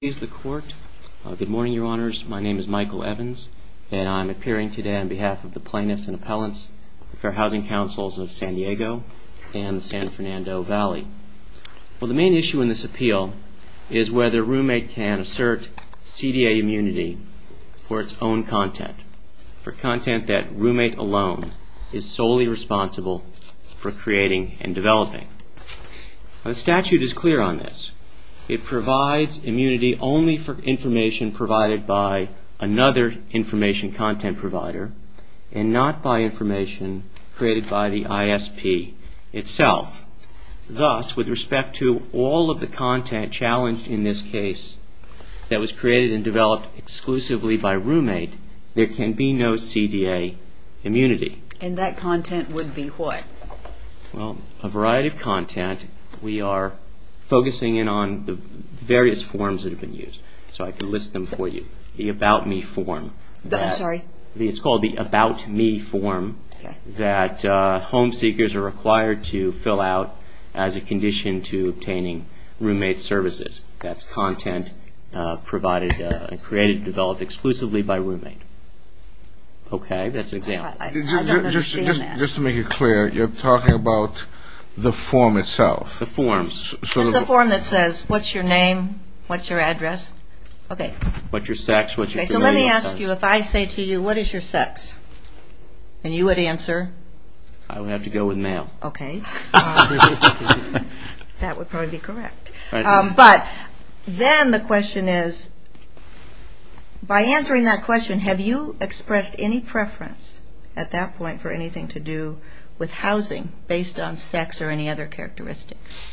Good morning, Your Honors. My name is Michael Evans, and I'm appearing today on behalf of the Plaintiffs and Appellants, the Fair Housing Councils of San Diego and the San Fernando Valley. Well, the main issue in this appeal is whether Roommate can assert CDA immunity for its own content, for content that Roommate alone is solely responsible for creating and developing. The statute is clear on this. It provides immunity only for information provided by another information content provider, and not by information created by the ISP itself. Thus, with respect to all of the content challenged in this case that was created and developed exclusively by Roommate, there can be no CDA immunity. And that content would be what? Well, a variety of content. We are focusing in on the various forms that have been used, so I can list them for you. The About Me form. I'm sorry? It's called the About Me form that home seekers are required to fill out as a condition to obtaining Roommate services. That's content provided and created and developed exclusively by Roommate. Okay? That's an example. I don't understand that. Just to make it clear, you're talking about the form itself. The form. The form that says what's your name, what's your address. Okay. What's your sex, what's your familial status. So let me ask you, if I say to you, what is your sex, and you would answer? I would have to go with male. Okay. That would probably be correct. But then the question is, by answering that question, have you expressed any preference at that point for anything to do with housing based on sex or any other characteristics?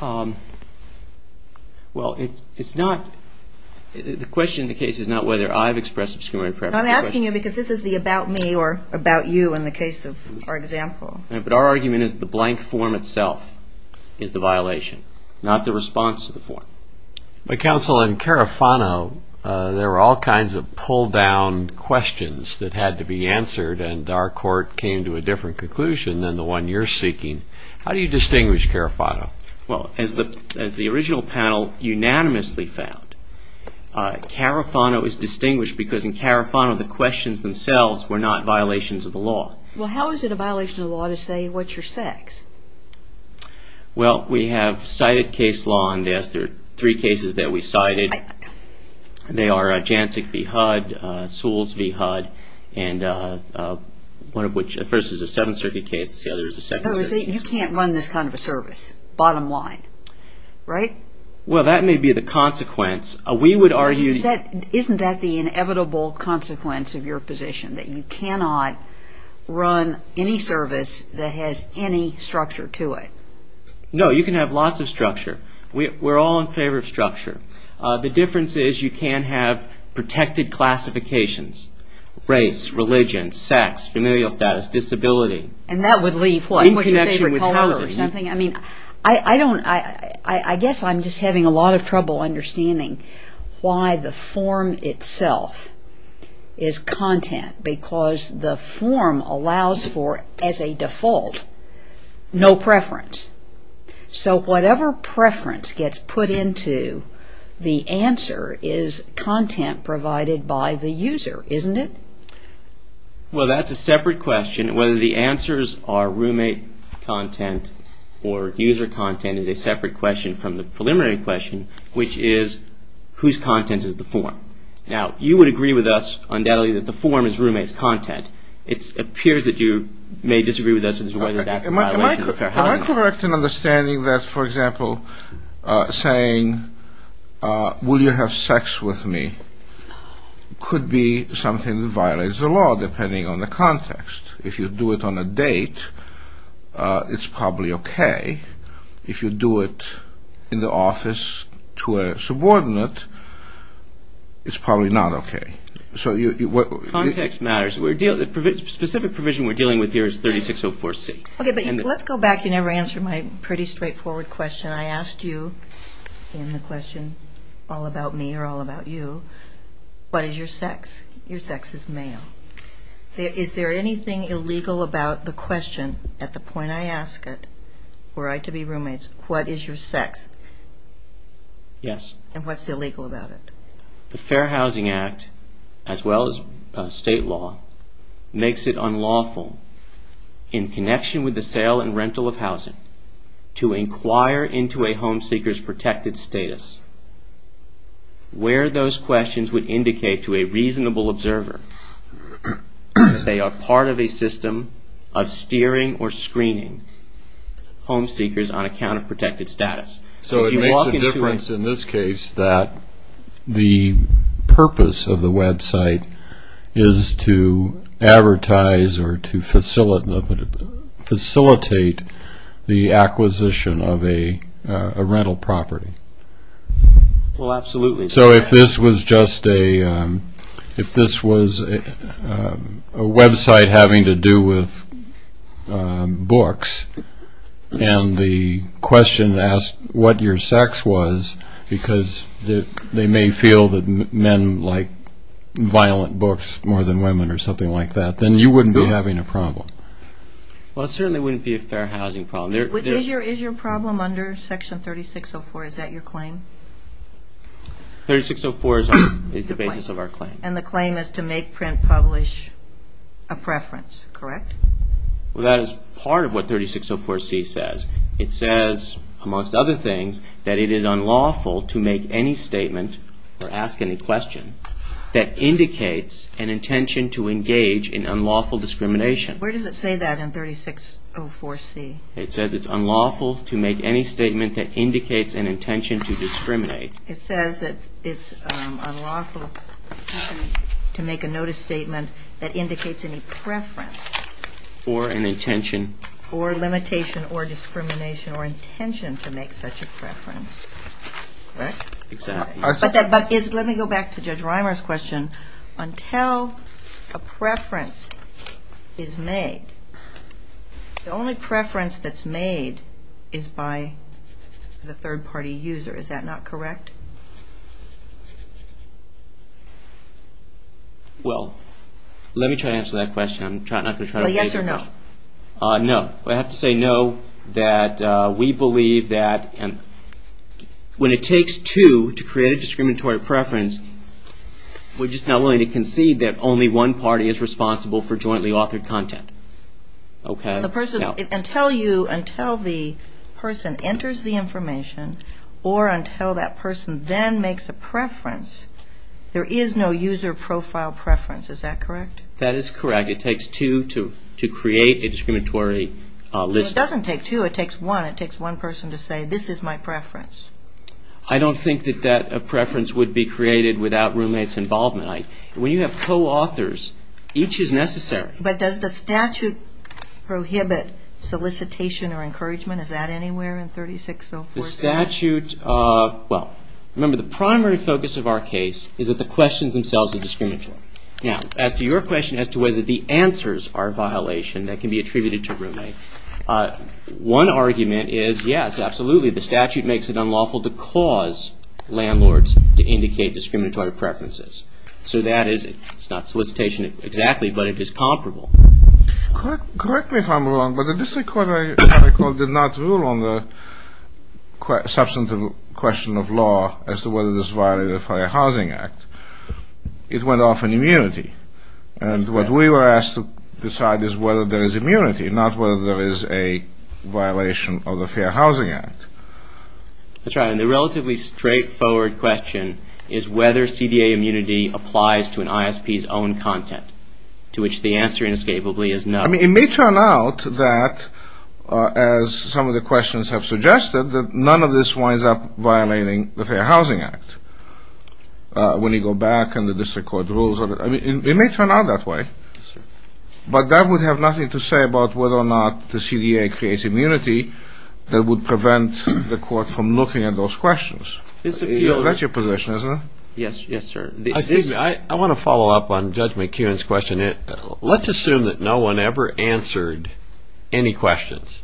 Well, it's not, the question in the case is not whether I've expressed discriminatory preference. I'm asking you because this is the About Me or About You in the case of our example. But our argument is the blank form itself is the violation, not the response to the form. But Counsel, in Carafano, there were all kinds of pulled down questions that had to be answered, and our court came to a different conclusion than the one you're seeking. How do you distinguish Carafano? Well, as the original panel unanimously found, Carafano is distinguished because in Carafano the questions themselves were not violations of the law. Well, how is it a violation of the law to say what's your sex? Well, we have cited case law on this. There are three cases that we cited. They are Jancic v. HUD, Sewells v. HUD, and one of which, the first is a Seventh Circuit case, the other is a Second Circuit case. You can't run this kind of a service, bottom line, right? Well, that may be the consequence. Isn't that the inevitable consequence of your position, that you cannot run any service that has any structure to it? No, you can have lots of structure. We're all in favor of structure. The difference is you can have protected classifications, race, religion, sex, familial status, disability. And that would leave, what, what's your favorite color or something? I mean, I don't, I guess I'm just having a lot of trouble understanding why the form itself is content. Because the form allows for, as a default, no preference. So whatever preference gets put into the answer is content provided by the user, isn't it? Well, that's a separate question. Whether the answers are roommate content or user content is a separate question from the preliminary question, which is whose content is the form? Now, you would agree with us undoubtedly that the form is roommate's content. It appears that you may disagree with us as to whether that's a violation of the Fair Housing Act. Am I correct in understanding that, for example, saying, will you have sex with me, could be something that violates the law, depending on the context. If you do it on a date, it's probably okay. If you do it in the office to a subordinate, it's probably not okay. So you, what, Context matters. The specific provision we're dealing with here is 3604C. Okay, but let's go back. You never answered my pretty straightforward question. I asked you in the question all about me or all about you, what is your sex? Your sex is male. Is there anything illegal about the question at the point I ask it, were I to be roommates, what is your sex? Yes. And what's illegal about it? The Fair Housing Act, as well as state law, makes it unlawful in connection with the sale and rental of housing to inquire into a home seeker's protected status where those questions would indicate to a reasonable observer that they are part of a system of steering or screening home seekers on account of protected status. So it makes a difference in this case that the purpose of the website is to advertise or to facilitate the acquisition of a rental property. Well, absolutely. So if this was just a, if this was a website having to do with books and the question asked what your sex was, because they may feel that men like violent books more than women or something like that, then you wouldn't be having a problem. Well, it certainly wouldn't be a fair housing problem. Is your problem under Section 3604, is that your claim? 3604 is the basis of our claim. And the claim is to make, print, publish a preference, correct? Well, that is part of what 3604C says. It says, amongst other things, that it is unlawful to make any statement or ask any question that indicates an intention to engage in unlawful discrimination. Where does it say that in 3604C? It says it's unlawful to make any statement that indicates an intention to discriminate. It says that it's unlawful to make a notice statement that indicates any preference. Or an intention. Or limitation or discrimination or intention to make such a preference. Correct? Exactly. But let me go back to Judge Reimer's question. Until a preference is made, the only preference that's made is by the third-party user. Is that not correct? Well, let me try to answer that question. Well, yes or no? No. I have to say no, that we believe that when it takes two to create a discriminatory preference, we're just not willing to concede that only one party is responsible for jointly authored content. Until the person enters the information, or until that person then makes a preference, there is no user profile preference. Is that correct? That is correct. It takes two to create a discriminatory list. It doesn't take two. It takes one. It takes one person to say, this is my preference. I don't think that a preference would be created without roommate's involvement. When you have co-authors, each is necessary. But does the statute prohibit solicitation or encouragement? Is that anywhere in 3604C? Well, remember, the primary focus of our case is that the questions themselves are discriminatory. Now, as to your question as to whether the answers are a violation that can be attributed to roommate, one argument is yes, absolutely. The statute makes it unlawful to cause landlords to indicate discriminatory preferences. So that is not solicitation exactly, but it is comparable. Correct me if I'm wrong, but the district court, I recall, did not rule on the substantive question of law as to whether this violated the Fair Housing Act. It went off on immunity. And what we were asked to decide is whether there is immunity, not whether there is a violation of the Fair Housing Act. That's right. And the relatively straightforward question is whether CDA immunity applies to an ISP's own content, to which the answer inescapably is no. I mean, it may turn out that, as some of the questions have suggested, that none of this winds up violating the Fair Housing Act when you go back and the district court rules on it. It may turn out that way. But that would have nothing to say about whether or not the CDA creates immunity that would prevent the court from looking at those questions. That's your position, isn't it? Yes, sir. I want to follow up on Judge McKeon's question. Let's assume that no one ever answered any questions.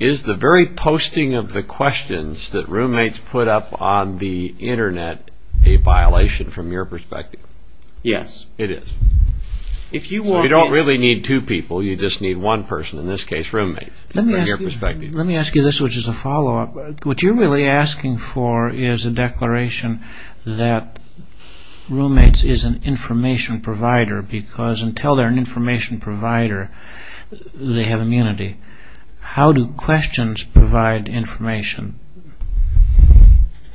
Is the very posting of the questions that roommates put up on the Internet a violation from your perspective? Yes, it is. You don't really need two people. You just need one person, in this case roommates, from your perspective. Let me ask you this, which is a follow-up. What you're really asking for is a declaration that roommates is an information provider, because until they're an information provider, they have immunity. How do questions provide information?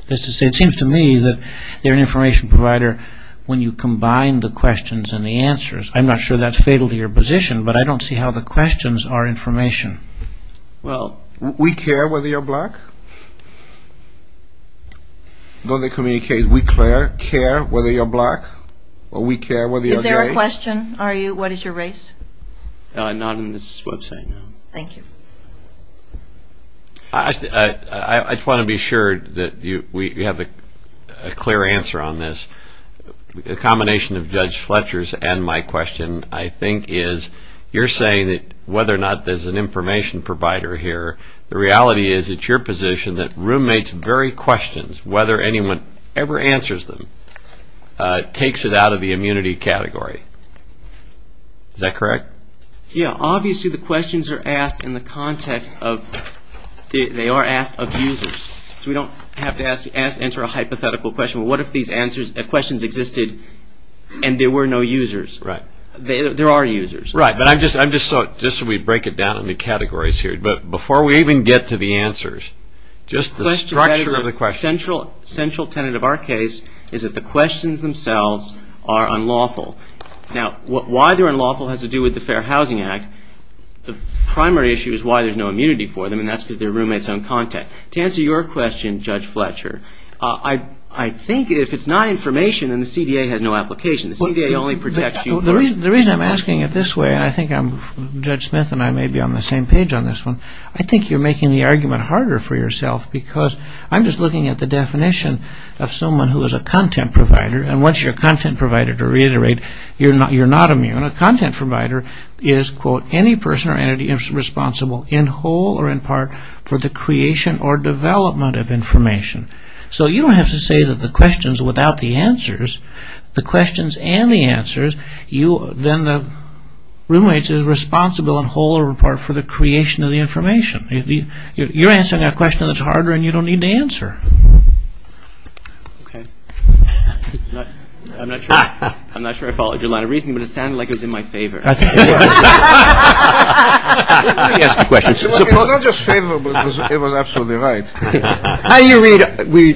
It seems to me that they're an information provider when you combine the questions and the answers. I'm not sure that's fatal to your position, but I don't see how the questions are information. Well, we care whether you're black. Don't they communicate, we care whether you're black, or we care whether you're gay? Is there a question? What is your race? No, not on this website, no. Thank you. I just want to be sure that we have a clear answer on this. The combination of Judge Fletcher's and my question, I think, is you're saying that whether or not there's an information provider here, the reality is it's your position that roommates' very questions, whether anyone ever answers them, takes it out of the immunity category. Is that correct? Yeah, obviously the questions are asked in the context of users. So we don't have to answer a hypothetical question. What if these questions existed and there were no users? There are users. Right, but just so we break it down into categories here. But before we even get to the answers, just the structure of the questions. The central tenet of our case is that the questions themselves are unlawful. Now, why they're unlawful has to do with the Fair Housing Act. The primary issue is why there's no immunity for them, and that's because they're roommates on contact. To answer your question, Judge Fletcher, I think if it's not information, then the CDA has no application. The CDA only protects users. The reason I'm asking it this way, and I think Judge Smith and I may be on the same page on this one, I think you're making the argument harder for yourself because I'm just looking at the definition of someone who is a content provider, and once you're a content provider, to reiterate, you're not immune. A content provider is, quote, any person or entity responsible in whole or in part for the creation or development of information. So you don't have to say that the questions without the answers. The questions and the answers, then the roommate is responsible in whole or in part for the creation of the information. You're answering a question that's harder and you don't need to answer. Okay. I'm not sure I followed your line of reasoning, but it sounded like it was in my favor. Let me ask the question. It was not just favorable, it was absolutely right. How do you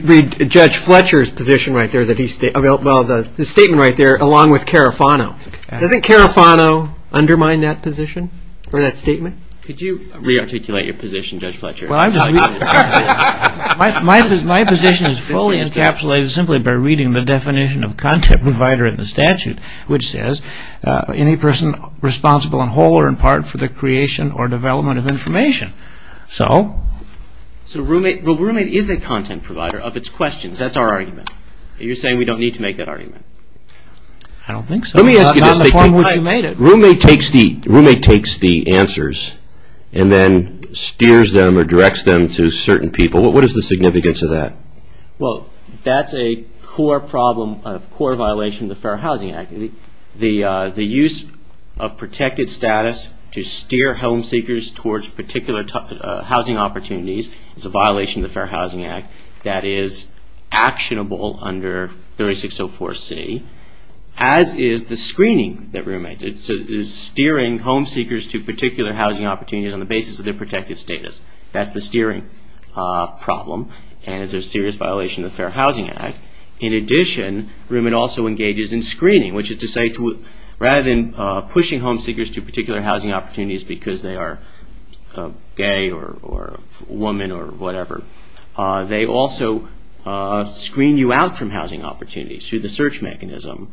read Judge Fletcher's position right there? Well, the statement right there along with Carafano. Doesn't Carafano undermine that position or that statement? Could you re-articulate your position, Judge Fletcher? Well, my position is fully encapsulated simply by reading the definition of content provider in the statute, which says any person responsible in whole or in part for the creation or development of information. So the roommate is a content provider of its questions. That's our argument. You're saying we don't need to make that argument. I don't think so. Let me ask you this. Roommate takes the answers and then steers them or directs them to certain people. What is the significance of that? Well, that's a core problem, a core violation of the Fair Housing Act. The use of protected status to steer home seekers towards particular housing opportunities is a violation of the Fair Housing Act that is actionable under 3604C, as is the screening that roommates do. Steering home seekers to particular housing opportunities on the basis of their protected status, that's the steering problem and is a serious violation of the Fair Housing Act. In addition, roommate also engages in screening, which is to say rather than pushing home seekers to particular housing opportunities because they are gay or woman or whatever, they also screen you out from housing opportunities through the search mechanism,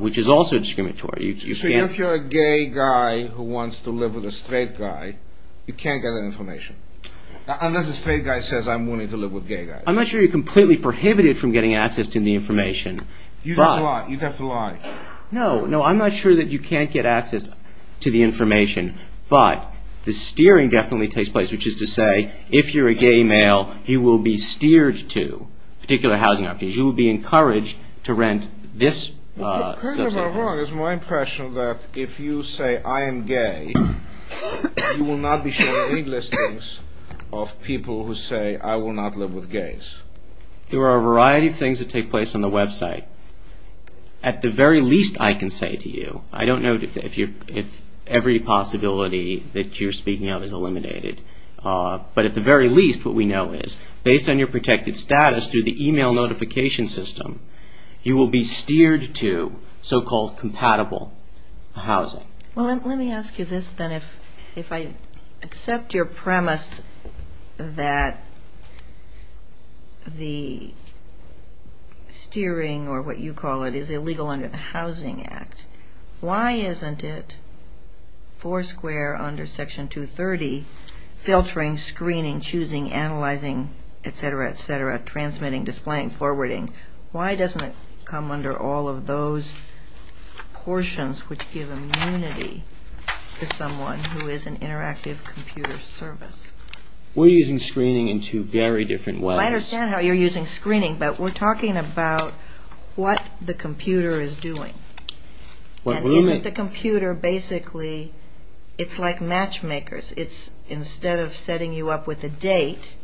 which is also discriminatory. So if you're a gay guy who wants to live with a straight guy, you can't get that information, unless the straight guy says, I'm willing to live with gay guys. I'm not sure you're completely prohibited from getting access to the information. You'd have to lie. No, I'm not sure that you can't get access to the information, but the steering definitely takes place, which is to say if you're a gay male, you will be steered to particular housing opportunities. You will be encouraged to rent this. You're kind of wrong. It's more impressionable that if you say, I am gay, you will not be shown any listings of people who say, I will not live with gays. There are a variety of things that take place on the website. At the very least, I can say to you, I don't know if every possibility that you're speaking of is eliminated. But at the very least, what we know is, based on your protected status through the email notification system, you will be steered to so-called compatible housing. Well, let me ask you this then. If I accept your premise that the steering, or what you call it, is illegal under the Housing Act, why isn't it four square under Section 230, filtering, screening, choosing, analyzing, et cetera, et cetera, transmitting, displaying, forwarding, why doesn't it come under all of those portions which give immunity to someone who is an interactive computer service? We're using screening in two very different ways. I understand how you're using screening, but we're talking about what the computer is doing. And isn't the computer basically, it's like matchmakers. Instead of setting you up with a date,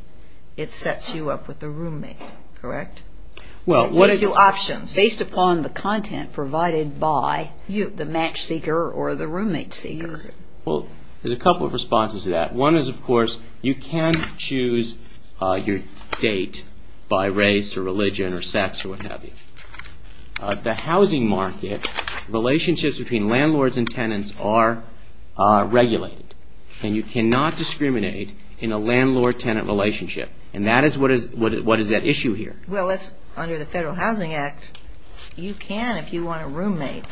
it sets you up with a roommate, correct? What are your options? Based upon the content provided by the match seeker or the roommate seeker. Well, there's a couple of responses to that. One is, of course, you can choose your date by race or religion or sex or what have you. The housing market, relationships between landlords and tenants are regulated. And you cannot discriminate in a landlord-tenant relationship. And that is what is at issue here. Well, under the Federal Housing Act, you can if you want a roommate.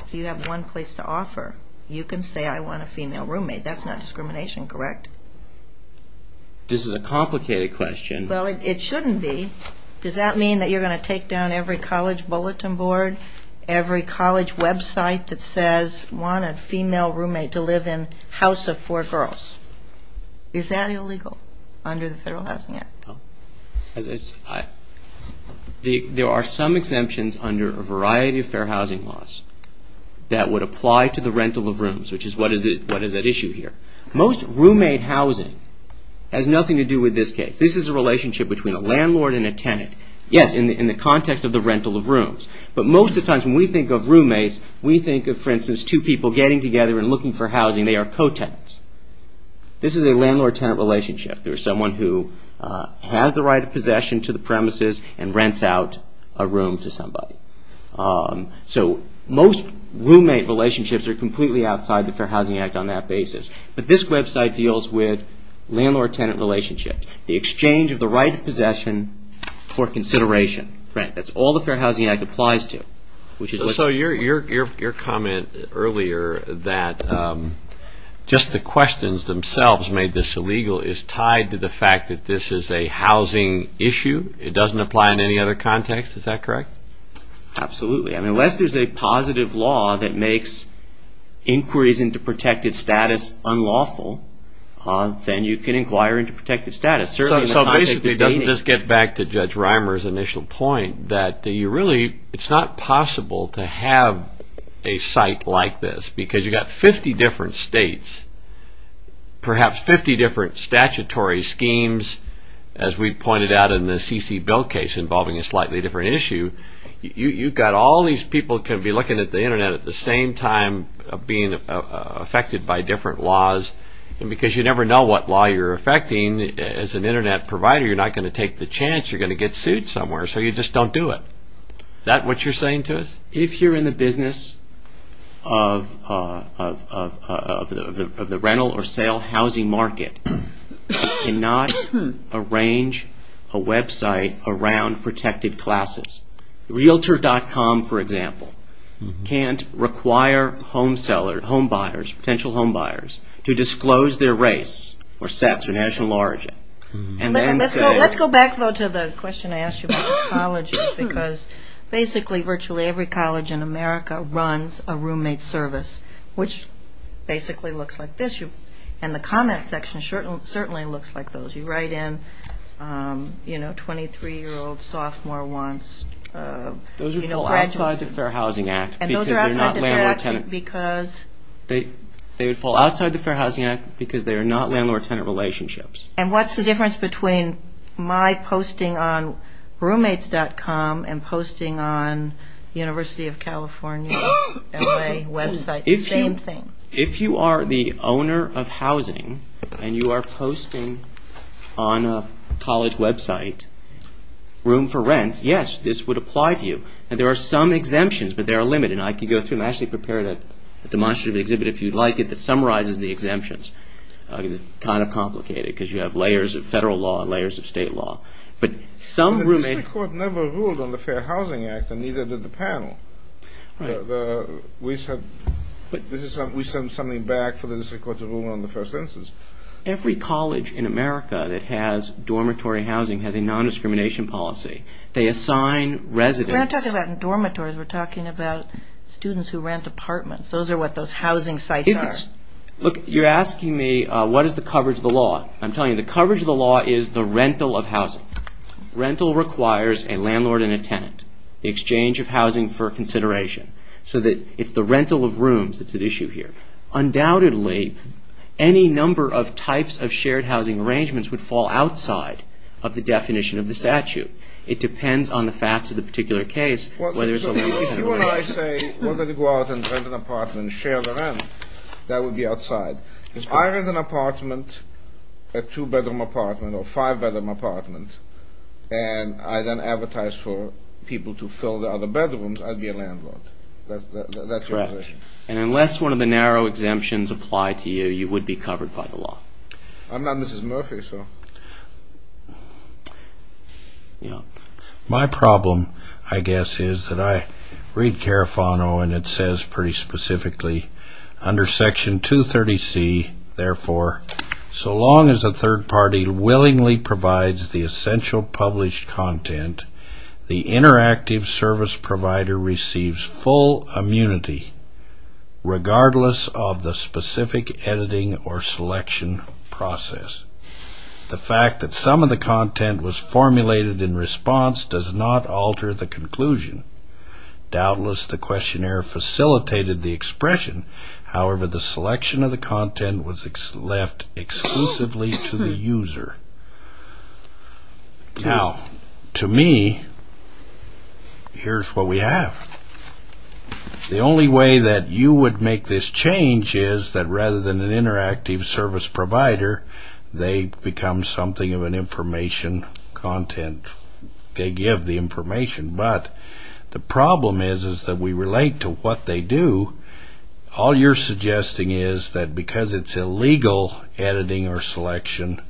If you have one place to offer, you can say, I want a female roommate. That's not discrimination, correct? This is a complicated question. Well, it shouldn't be. Does that mean that you're going to take down every college bulletin board, every college website that says, I want a female roommate to live in a house of four girls? Is that illegal under the Federal Housing Act? There are some exemptions under a variety of fair housing laws that would apply to the rental of rooms, which is what is at issue here. Most roommate housing has nothing to do with this case. This is a relationship between a landlord and a tenant. Yes, in the context of the rental of rooms. But most of the times when we think of roommates, we think of, for instance, two people getting together and looking for housing. They are co-tenants. This is a landlord-tenant relationship. There is someone who has the right of possession to the premises and rents out a room to somebody. So most roommate relationships are completely outside the Fair Housing Act on that basis. But this website deals with landlord-tenant relationships, the exchange of the right of possession for consideration. That's all the Fair Housing Act applies to. So your comment earlier that just the questions themselves made this illegal is tied to the fact that this is a housing issue. It doesn't apply in any other context. Is that correct? Absolutely. Unless there is a positive law that makes inquiries into protected status unlawful, then you can inquire into protected status. So basically it doesn't just get back to Judge Reimer's initial point that it's not possible to have a site like this because you've got 50 different states, perhaps 50 different statutory schemes, as we pointed out in the CC Bill case involving a slightly different issue. You've got all these people can be looking at the Internet at the same time being affected by different laws because you never know what law you're affecting. As an Internet provider, you're not going to take the chance. You're going to get sued somewhere, so you just don't do it. Is that what you're saying to us? If you're in the business of the rental or sale housing market, you cannot arrange a website around protected classes. Realtor.com, for example, can't require potential homebuyers to disclose their race or sex or national origin and then say... Let's go back, though, to the question I asked you about colleges because basically virtually every college in America runs a roommate service, which basically looks like this. And the comment section certainly looks like those. You write in, you know, 23-year-old sophomore wants... Those would fall outside the Fair Housing Act because they're not landlord-tenant. They would fall outside the Fair Housing Act because they are not landlord-tenant relationships. And what's the difference between my posting on roommates.com and posting on University of California L.A. website? Same thing. If you are the owner of housing and you are posting on a college website, room for rent, yes, this would apply to you. And there are some exemptions, but they are limited. And I could go through and actually prepare a demonstrative exhibit if you'd like it that summarizes the exemptions. It's kind of complicated because you have layers of federal law and layers of state law. But some roommates... The district court never ruled on the Fair Housing Act and neither did the panel. We sent something back for the district court to rule on the first instance. Every college in America that has dormitory housing has a non-discrimination policy. They assign residents... We're not talking about dormitories. We're talking about students who rent apartments. Those are what those housing sites are. Look, you're asking me what is the coverage of the law. I'm telling you the coverage of the law is the rental of housing. Rental requires a landlord and a tenant. The exchange of housing for consideration. So that it's the rental of rooms that's at issue here. Undoubtedly, any number of types of shared housing arrangements would fall outside of the definition of the statute. It depends on the facts of the particular case whether it's a... So if you and I say whether to go out and rent an apartment and share the rent, that would be outside. If I rent an apartment, a two-bedroom apartment or five-bedroom apartment, and I then advertise for people to fill the other bedrooms, I'd be a landlord. That's your position. Right. And unless one of the narrow exemptions apply to you, you would be covered by the law. I'm not Mrs. Murphy, so... My problem, I guess, is that I read Carafano and it says pretty specifically, under Section 230C, therefore, so long as a third party willingly provides the essential published content, the interactive service provider receives full immunity regardless of the specific editing or selection process. The fact that some of the content was formulated in response does not alter the conclusion. Doubtless, the questionnaire facilitated the expression. However, the selection of the content was left exclusively to the user. Now, to me, here's what we have. The only way that you would make this change is that rather than an interactive service provider, they become something of an information content. They give the information, but the problem is that we relate to what they do. All you're suggesting is that because it's illegal editing or selection,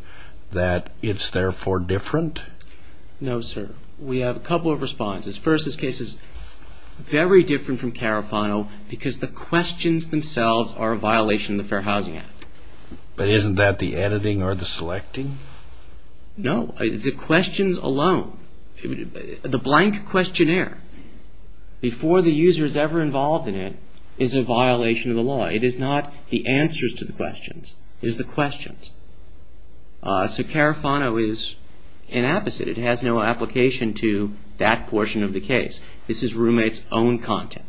that it's therefore different? No, sir. We have a couple of responses. First, this case is very different from Carafano because the questions themselves are a violation of the Fair Housing Act. But isn't that the editing or the selecting? No, it's the questions alone. The blank questionnaire, before the user is ever involved in it, is a violation of the law. It is not the answers to the questions. It is the questions. So Carafano is an apposite. It has no application to that portion of the case. This is roommate's own content.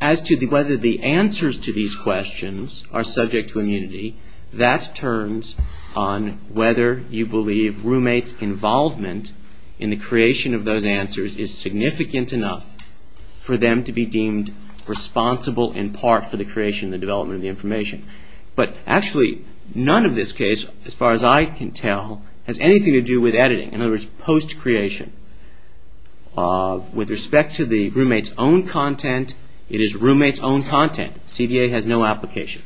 As to whether the answers to these questions are subject to immunity, that turns on whether you believe roommate's involvement in the creation of those answers is significant enough for them to be deemed responsible in part for the creation and development of the information. But actually, none of this case, as far as I can tell, has anything to do with editing. In other words, post-creation. With respect to the roommate's own content, it is roommate's own content. CDA has no application.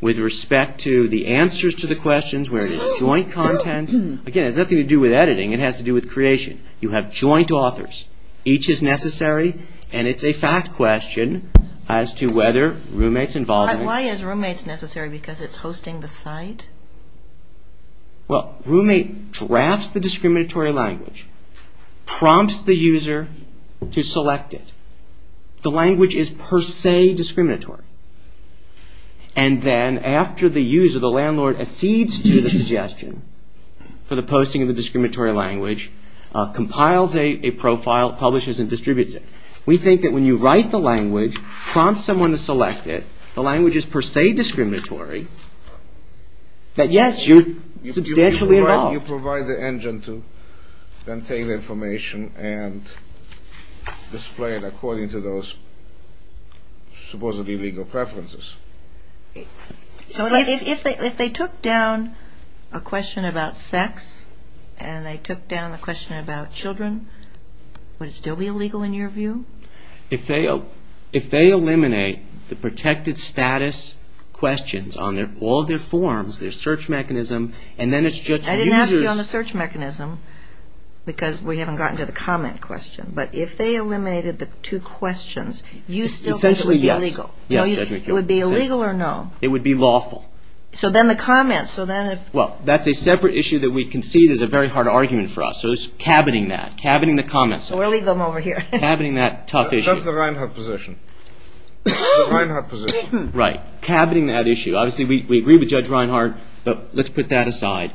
With respect to the answers to the questions, where it is joint content, again, it has nothing to do with editing. It has to do with creation. You have joint authors. Each is necessary. And it's a fact question as to whether roommate's involvement... But why is roommate's necessary? Because it's hosting the site? Well, roommate drafts the discriminatory language, prompts the user to select it. The language is per se discriminatory. And then after the user, the landlord, accedes to the suggestion for the posting of the discriminatory language, compiles a profile, publishes and distributes it. We think that when you write the language, prompt someone to select it, the language is per se discriminatory, that yes, you're substantially involved. Why don't you provide the engine to then take the information and display it according to those supposedly legal preferences? So if they took down a question about sex and they took down a question about children, would it still be illegal in your view? If they eliminate the protected status questions on all their forms, their search mechanism, and then it's just users... I didn't ask you on the search mechanism because we haven't gotten to the comment question. But if they eliminated the two questions, you still think it would be illegal? Essentially, yes. It would be illegal or no? It would be lawful. So then the comments, so then if... Well, that's a separate issue that we concede is a very hard argument for us. So it's caboting that, caboting the comments. So we'll leave them over here. Caboting that tough issue. That's the Reinhardt position. The Reinhardt position. Right, caboting that issue. Obviously, we agree with Judge Reinhardt, but let's put that aside.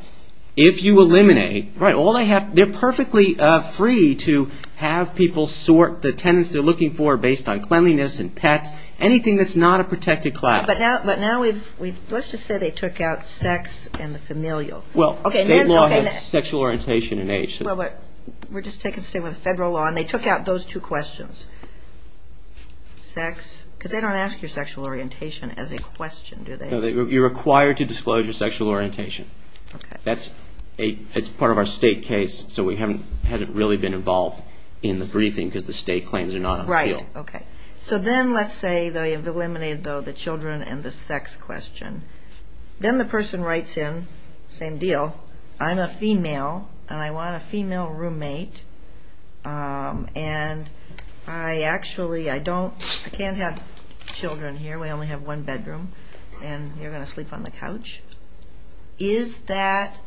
If you eliminate... Right, all they have, they're perfectly free to have people sort the tenants they're looking for based on cleanliness and pets, anything that's not a protected class. But now we've, let's just say they took out sex and the familial. Well, state law has sexual orientation and age. Well, but we're just taking the state and federal law, and they took out those two questions. Sex, because they don't ask your sexual orientation as a question, do they? No, you're required to disclose your sexual orientation. That's part of our state case, so we haven't really been involved in the briefing because the state claims are not on the field. Right, okay. So then let's say they have eliminated, though, the children and the sex question. Then the person writes in, same deal, I'm a female, and I want a female roommate, and I actually, I don't, I can't have children here. We only have one bedroom, and you're going to sleep on the couch. Is that,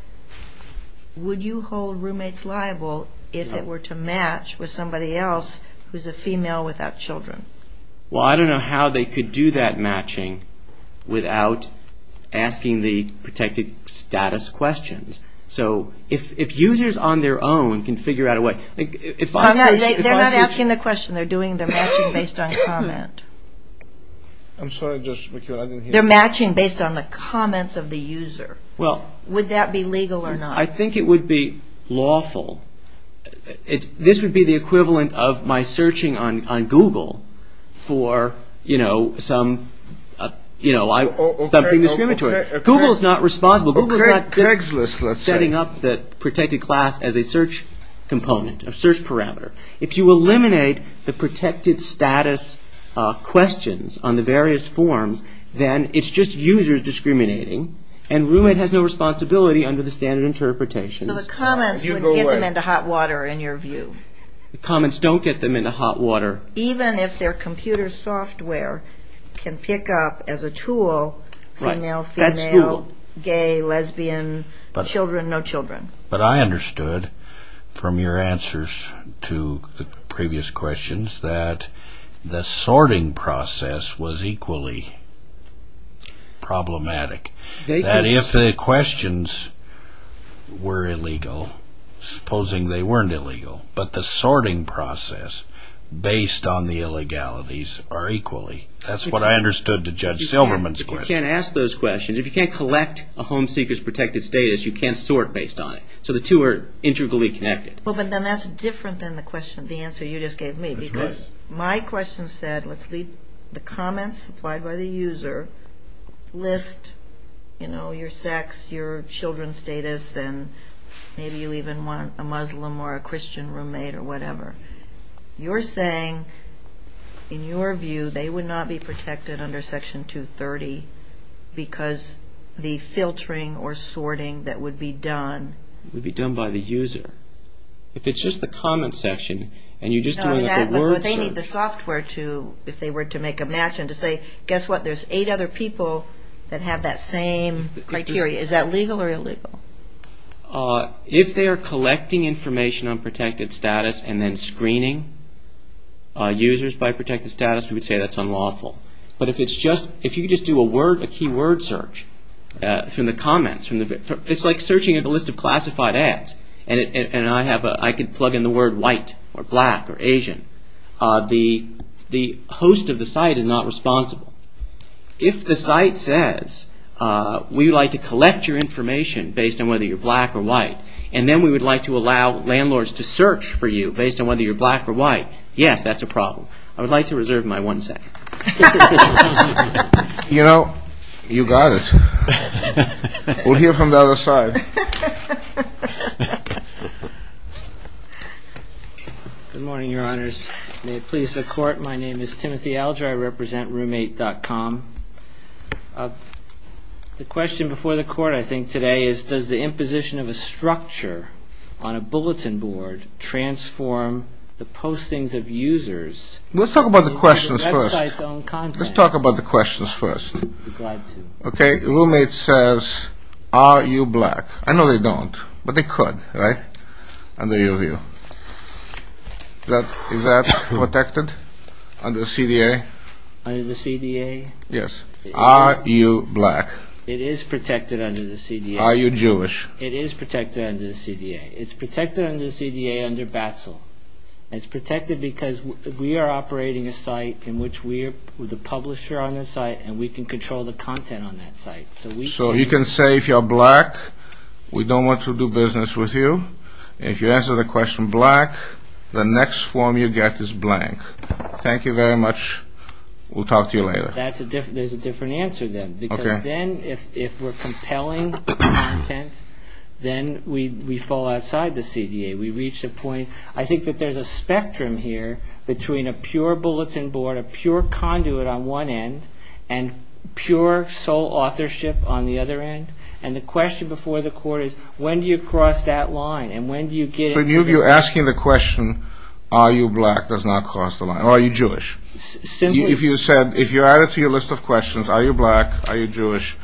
would you hold roommates liable if it were to match with somebody else who's a female without children? Well, I don't know how they could do that matching without asking the protected status questions. So if users on their own can figure out a way. They're not asking the question. They're doing the matching based on comment. I'm sorry, I just, I didn't hear you. They're matching based on the comments of the user. Would that be legal or not? I think it would be lawful. This would be the equivalent of my searching on Google for, you know, some, you know, something discriminatory. Google is not responsible. Google is not setting up the protected class as a search component, a search parameter. If you eliminate the protected status questions on the various forms, then it's just users discriminating, and roommate has no responsibility under the standard interpretations. So the comments wouldn't get them into hot water in your view? The comments don't get them into hot water. Even if their computer software can pick up as a tool, female, female, gay, lesbian, children, no children. But I understood from your answers to the previous questions that the sorting process was equally problematic. If the questions were illegal, supposing they weren't illegal, but the sorting process based on the illegalities are equally. That's what I understood to Judge Silverman's question. You can't ask those questions. If you can't collect a home seeker's protected status, you can't sort based on it. So the two are integrally connected. Well, but then that's different than the question, the answer you just gave me. That's right. My question said, let's leave the comments supplied by the user, list, you know, your sex, your children's status, and maybe you even want a Muslim or a Christian roommate or whatever. You're saying, in your view, they would not be protected under Section 230 because the filtering or sorting that would be done. Would be done by the user. If it's just the comment section and you're just doing like a word search. But they need the software to, if they were to make a match and to say, guess what, there's eight other people that have that same criteria. Is that legal or illegal? If they are collecting information on protected status and then screening users by protected status, we would say that's unlawful. But if it's just, if you could just do a word, a keyword search from the comments. It's like searching a list of classified ads. And I could plug in the word white or black or Asian. The host of the site is not responsible. If the site says, we would like to collect your information based on whether you're black or white, and then we would like to allow landlords to search for you based on whether you're black or white, yes, that's a problem. I would like to reserve my one second. You know, you got it. We'll hear from the other side. Good morning, your honors. May it please the court. My name is Timothy Alger. I represent roommate.com. The question before the court, I think, today is, does the imposition of a structure on a bulletin board transform the postings of users? Let's talk about the questions first. Let's talk about the questions first. Okay, roommate says, are you black? I know they don't, but they could, right, under your view. Is that protected under the CDA? Under the CDA? Yes. Are you black? It is protected under the CDA. Are you Jewish? It is protected under the CDA. It's protected under the CDA under BATSL. It's protected because we are operating a site in which we are the publisher on the site, and we can control the content on that site. So you can say if you're black, we don't want to do business with you. If you answer the question black, the next form you get is blank. Thank you very much. We'll talk to you later. There's a different answer then. Because then if we're compelling content, then we fall outside the CDA. We reach the point, I think that there's a spectrum here between a pure bulletin board, a pure conduit on one end, and pure sole authorship on the other end. And the question before the court is, when do you cross that line, and when do you get it? So you're asking the question, are you black does not cross the line, or are you Jewish? Simply. If you said, if you add it to your list of questions, are you black, are you Jewish,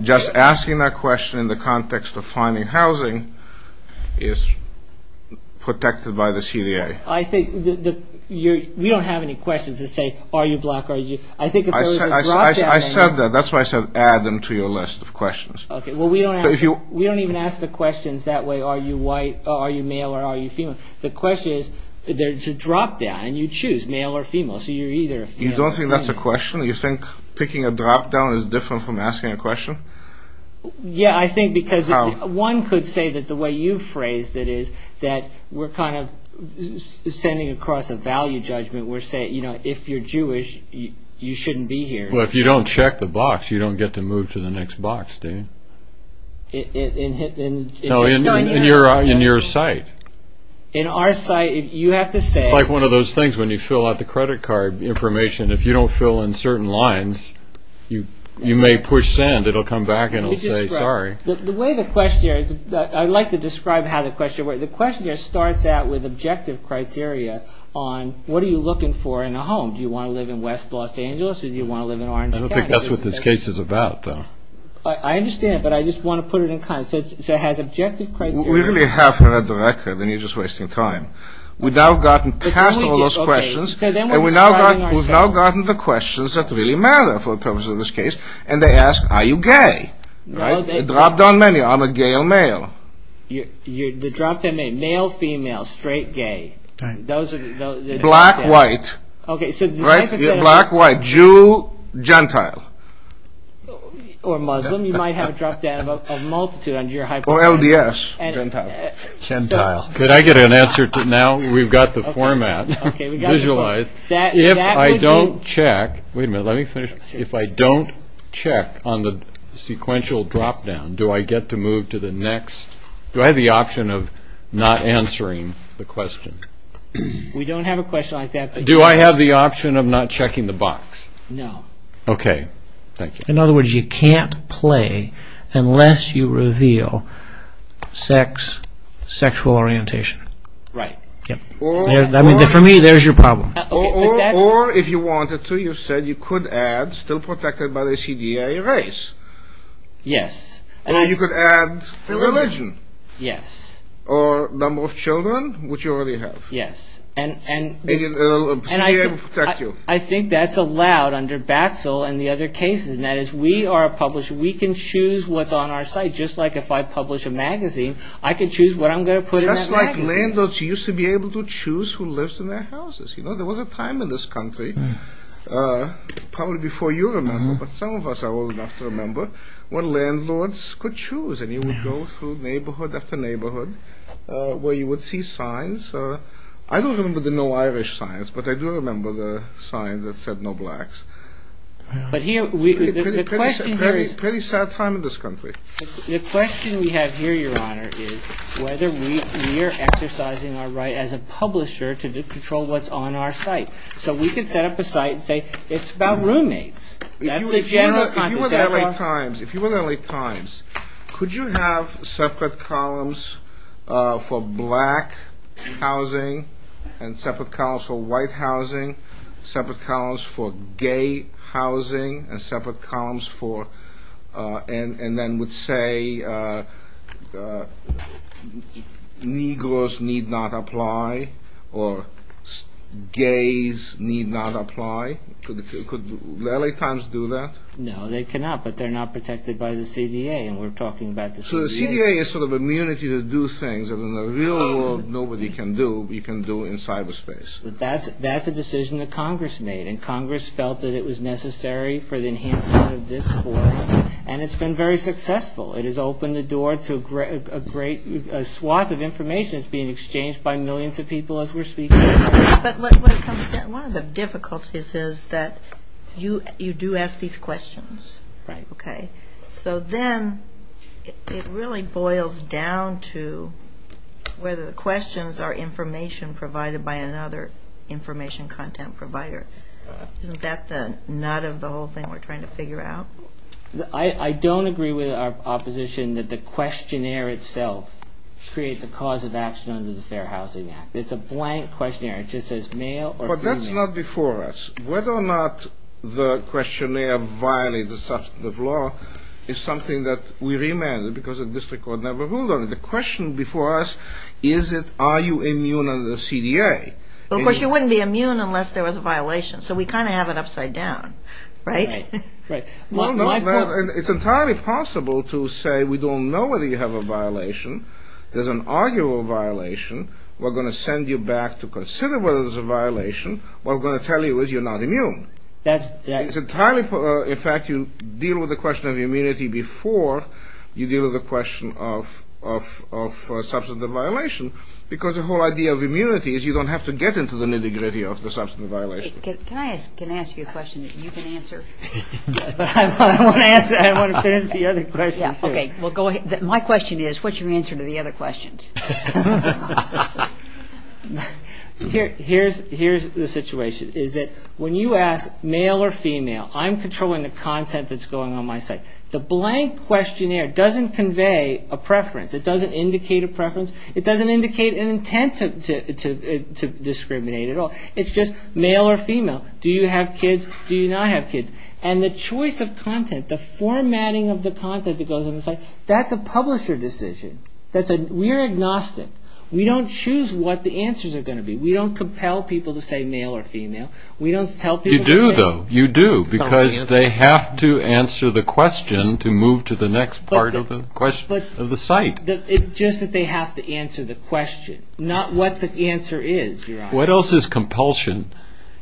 just asking that question in the context of finding housing is protected by the CDA. We don't have any questions that say, are you black, are you Jewish. I said that. That's why I said add them to your list of questions. We don't even ask the questions that way, are you white, are you male, or are you female. The question is, there's a drop-down, and you choose male or female. You don't think that's a question? You think picking a drop-down is different from asking a question? Yeah, I think because one could say that the way you phrased it is, that we're kind of sending across a value judgment. We're saying, you know, if you're Jewish, you shouldn't be here. Well, if you don't check the box, you don't get to move to the next box, do you? In your site. In our site, you have to say. It's like one of those things when you fill out the credit card information, if you don't fill in certain lines, you may push send. It'll come back and it'll say, sorry. The way the questioner, I like to describe how the questioner works. The questioner starts out with objective criteria on, what are you looking for in a home? Do you want to live in West Los Angeles, or do you want to live in Orange County? I don't think that's what this case is about, though. I understand, but I just want to put it in context. So it has objective criteria. We really haven't read the record, and you're just wasting time. We've now gotten past all those questions. We've now gotten the questions that really matter for the purpose of this case, and they ask, are you gay? It dropped on many. I'm a gay male. It dropped on male, female, straight, gay. Black, white. Black, white, Jew, Gentile. Or Muslim. You might have it dropped down to a multitude under your hyperbolic. Or LDS, Gentile. Could I get an answer now? Well, we've got the format visualized. If I don't check, wait a minute, let me finish. If I don't check on the sequential drop-down, do I get to move to the next? Do I have the option of not answering the question? We don't have a question like that. Do I have the option of not checking the box? No. Okay, thank you. In other words, you can't play unless you reveal sex, sexual orientation. Right. For me, there's your problem. Or if you wanted to, you said you could add, still protected by the CDA, race. Yes. Or you could add religion. Yes. Or number of children, which you already have. Yes. And CDA will protect you. I think that's allowed under BATSL and the other cases. That is, we are a publisher. We can choose what's on our site. Just like if I publish a magazine, I can choose what I'm going to put in that magazine. Just like landlords used to be able to choose who lives in their houses. You know, there was a time in this country, probably before you remember, but some of us are old enough to remember, when landlords could choose, and you would go through neighborhood after neighborhood where you would see signs. I don't remember the no Irish signs, but I do remember the signs that said no blacks. But here, the question here is – Pretty sad time in this country. The question we have here, Your Honor, is whether we are exercising our right as a publisher to control what's on our site. So we can set up a site and say it's about roommates. If you were the LA Times, could you have separate columns for black housing and separate columns for white housing, separate columns for gay housing, and separate columns for – and then would say, Negroes need not apply, or gays need not apply. Could the LA Times do that? No, they cannot, but they're not protected by the CDA, and we're talking about the CDA. So the CDA is sort of immunity to do things that in the real world nobody can do, but you can do in cyberspace. That's a decision that Congress made, and Congress felt that it was necessary for the enhancement of this forum, and it's been very successful. It has opened the door to a great swath of information that's being exchanged by millions of people as we're speaking. But when it comes down – one of the difficulties is that you do ask these questions. Right. Okay. So then it really boils down to whether the questions are information provided by another information content provider. Isn't that the nut of the whole thing we're trying to figure out? I don't agree with our opposition that the questionnaire itself creates a cause of action under the Fair Housing Act. It's a blank questionnaire. It just says male or female. But that's not before us. Whether or not the questionnaire violates a substantive law is something that we remanded because the district court never ruled on it. The question before us is, are you immune under the CDA? Of course you wouldn't be immune unless there was a violation, so we kind of have it upside down, right? Right. It's entirely possible to say we don't know whether you have a violation, there's an arguable violation, we're going to send you back to consider whether there's a violation, what we're going to tell you is you're not immune. That's – It's entirely – in fact, you deal with the question of immunity before you deal with the question of substantive violation because the whole idea of immunity is you don't have to get into the nitty-gritty of the substantive violation. Can I ask – can I ask you a question that you can answer? Yes. I want to answer – I want to finish the other questions, too. Okay. Well, go ahead. My question is, what's your answer to the other questions? Here's the situation is that when you ask male or female, I'm controlling the content that's going on my site. The blank questionnaire doesn't convey a preference. It doesn't indicate a preference. It doesn't indicate an intent to discriminate at all. It's just male or female. Do you have kids? Do you not have kids? And the choice of content, the formatting of the content that goes on the site, that's a publisher decision. That's a – we're agnostic. We don't choose what the answers are going to be. We don't compel people to say male or female. We don't tell people to say – You do, though. You do because they have to answer the question to move to the next part of the site. It's just that they have to answer the question, not what the answer is, Your Honor. What else is compulsion?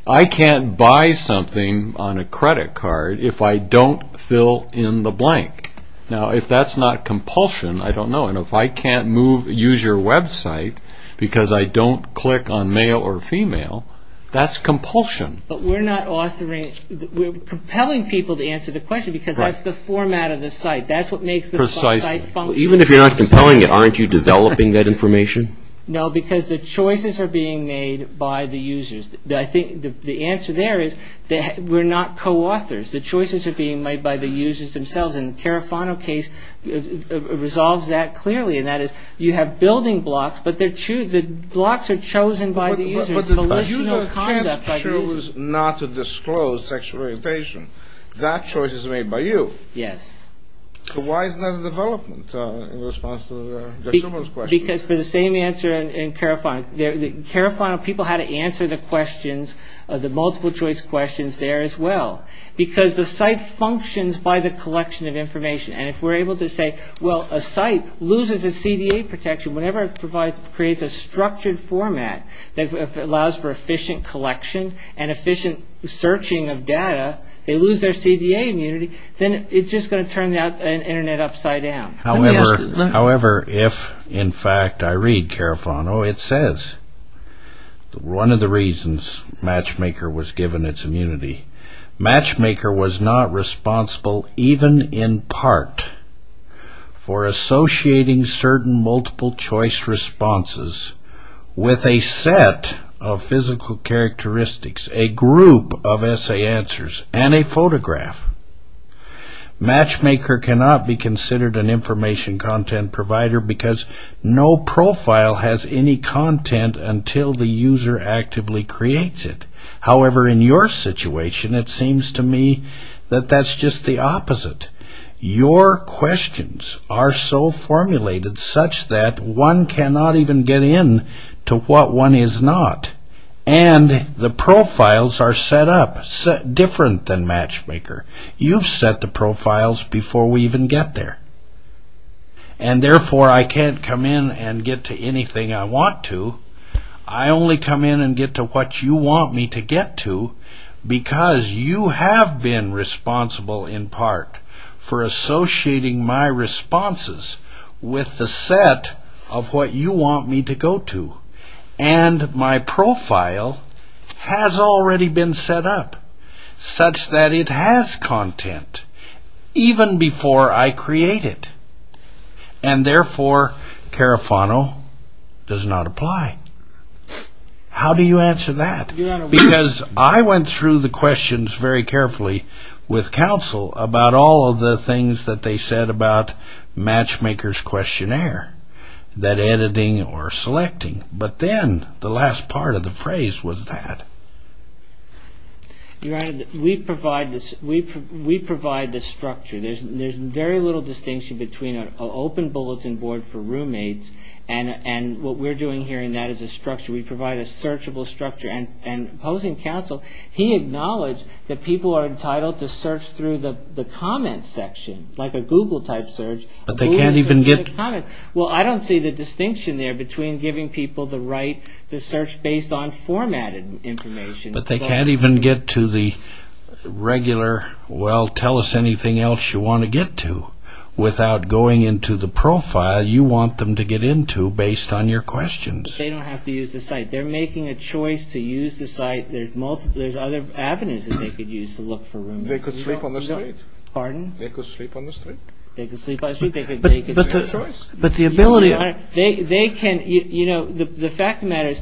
I can't buy something on a credit card if I don't fill in the blank. Now, if that's not compulsion, I don't know. And if I can't move – use your website because I don't click on male or female, that's compulsion. But we're not authoring – we're compelling people to answer the question because that's the format of the site. That's what makes the site function. Precisely. Even if you're not compelling it, aren't you developing that information? No, because the choices are being made by the users. I think the answer there is that we're not co-authors. The choices are being made by the users themselves, and the Carafano case resolves that clearly, and that is you have building blocks, but the blocks are chosen by the users. But the user can't choose not to disclose sexual orientation. That choice is made by you. Yes. Why is that a development in response to Judge Silberman's question? Because for the same answer in Carafano, Carafano people had to answer the questions, the multiple-choice questions there as well, because the site functions by the collection of information. And if we're able to say, well, a site loses its CDA protection whenever it creates a structured format that allows for efficient collection and efficient searching of data, they lose their CDA immunity, then it's just going to turn the Internet upside down. However, if, in fact, I read Carafano, it says one of the reasons Matchmaker was given its immunity, Matchmaker was not responsible even in part for associating certain multiple-choice responses with a set of physical characteristics, a group of essay answers, and a photograph. Matchmaker cannot be considered an information content provider because no profile has any content until the user actively creates it. However, in your situation, it seems to me that that's just the opposite. Your questions are so formulated such that one cannot even get in to what one is not. And the profiles are set up different than Matchmaker. You've set the profiles before we even get there. And therefore, I can't come in and get to anything I want to. I only come in and get to what you want me to get to because you have been responsible in part for associating my responses with the set of what you want me to go to. And my profile has already been set up such that it has content even before I create it. And therefore, Carafano does not apply. How do you answer that? Because I went through the questions very carefully with counsel about all of the things that they said about Matchmaker's questionnaire, that editing or selecting. But then the last part of the phrase was that. Your Honor, we provide the structure. There's very little distinction between an open bulletin board for roommates and what we're doing here, and that is a structure. We provide a searchable structure. And opposing counsel, he acknowledged that people are entitled to search through the comments section, like a Google-type search. Well, I don't see the distinction there between giving people the right to search based on formatted information. But they can't even get to the regular, well, tell us anything else you want to get to without going into the profile you want them to get into based on your questions. They don't have to use the site. They're making a choice to use the site. There's other avenues that they could use to look for roommates. They could sleep on the street. Pardon? They could sleep on the street. They could sleep on the street. They could make a choice. But the ability of... Your Honor, they can, you know, the fact of the matter is,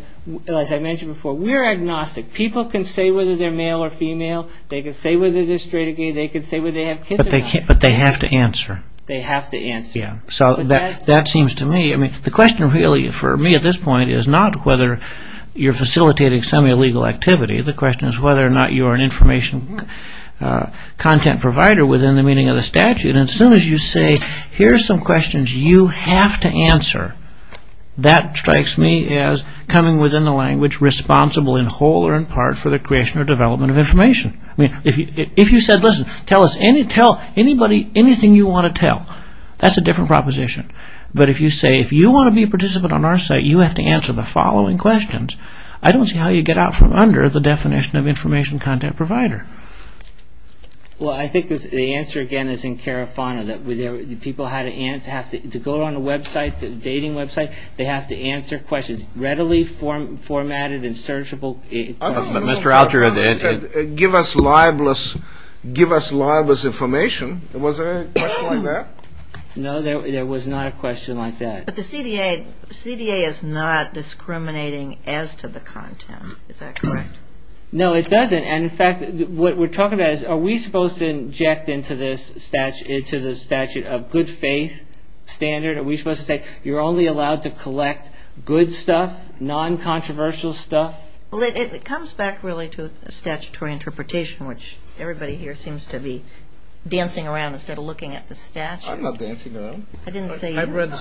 as I mentioned before, we're agnostic. People can say whether they're male or female. They can say whether they're straight or gay. They can say whether they have kids or not. But they have to answer. They have to answer. Yeah. So that seems to me, I mean, the question really for me at this point is not whether you're facilitating some illegal activity. The question is whether or not you are an information content provider within the meaning of the statute. And as soon as you say, here are some questions you have to answer, that strikes me as coming within the language responsible in whole or in part for the creation or development of information. I mean, if you said, listen, tell us anything you want to tell, that's a different proposition. But if you say, if you want to be a participant on our site, you have to answer the following questions, I don't see how you get out from under the definition of information content provider. Well, I think the answer, again, is in carafano. People have to go on a website, a dating website. They have to answer questions readily formatted and searchable. Mr. Alter said, give us libelous information. Was there a question like that? No, there was not a question like that. But the CDA is not discriminating as to the content. Is that correct? No, it doesn't. And, in fact, what we're talking about is, are we supposed to inject into the statute a good faith standard? Are we supposed to say, you're only allowed to collect good stuff, non-controversial stuff? Well, it comes back, really, to a statutory interpretation, which everybody here seems to be dancing around instead of looking at the statute. I'm not dancing around. I didn't say you. I've read the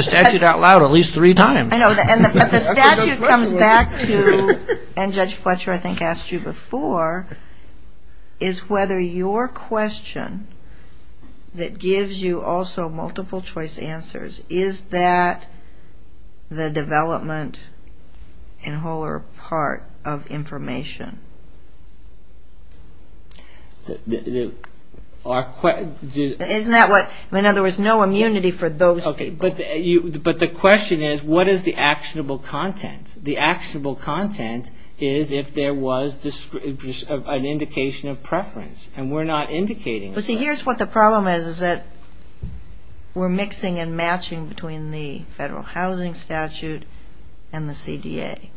statute out loud at least three times. The statute comes back to, and Judge Fletcher, I think, asked you before, is whether your question that gives you also multiple-choice answers, is that the development and whole or part of information? In other words, no immunity for those people. But the question is, what is the actionable content? The actionable content is if there was an indication of preference, and we're not indicating that. Well, see, here's what the problem is, is that we're mixing and matching between the Federal Housing Statute and the CDA.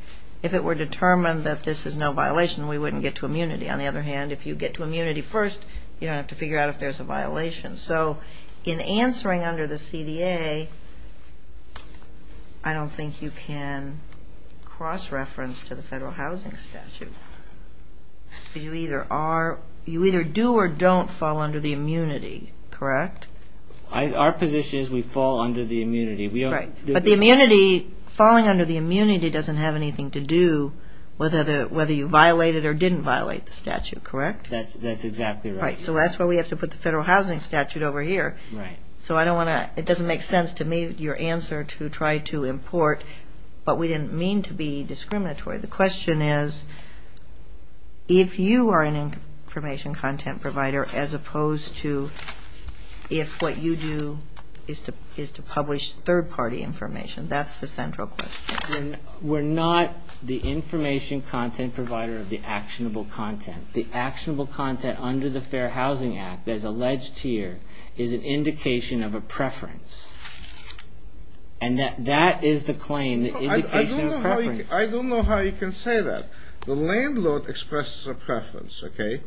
If it were determined that this is no violation, we wouldn't get to immunity. On the other hand, if you get to immunity first, you don't have to figure out if there's a violation. So in answering under the CDA, I don't think you can cross-reference to the Federal Housing Statute. You either do or don't fall under the immunity, correct? Our position is we fall under the immunity. But the immunity, falling under the immunity doesn't have anything to do whether you violate it or didn't violate the statute, correct? That's exactly right. So that's why we have to put the Federal Housing Statute over here. So I don't want to – it doesn't make sense to me, your answer, to try to import. But we didn't mean to be discriminatory. The question is if you are an information content provider as opposed to if what you do is to publish third-party information. That's the central question. We're not the information content provider of the actionable content. The actionable content under the Fair Housing Act, as alleged here, is an indication of a preference. And that is the claim, the indication of a preference. I don't know how you can say that. The landlord expresses a preference, okay?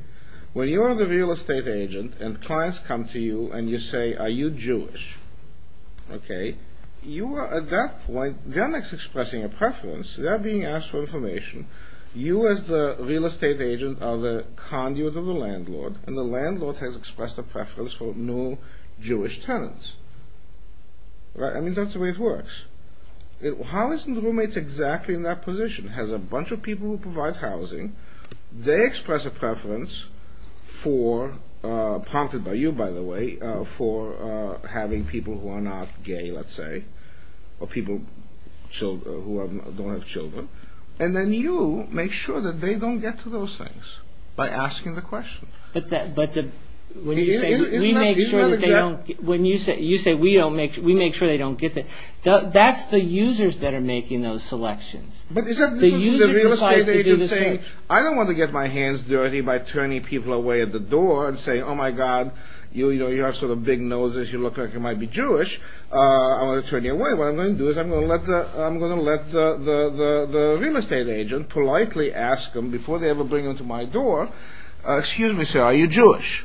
When you are the real estate agent and clients come to you and you say, Are you Jewish? Okay, you are at that point then expressing a preference. They're being asked for information. You as the real estate agent are the conduit of the landlord, and the landlord has expressed a preference for no Jewish tenants. I mean, that's the way it works. How is the roommate exactly in that position? He has a bunch of people who provide housing. They express a preference for – prompted by you, by the way – for having people who are not gay, let's say, or people who don't have children. And then you make sure that they don't get to those things by asking the question. But when you say we make sure that they don't – Isn't that exactly – When you say we make sure they don't get to – that's the users that are making those selections. But isn't the real estate agent saying, I don't want to get my hands dirty by turning people away at the door and saying, Oh, my God, you have sort of big noses. You look like you might be Jewish. I'm going to turn you away. What I'm going to do is I'm going to let the real estate agent politely ask them, before they ever bring them to my door, Excuse me, sir, are you Jewish?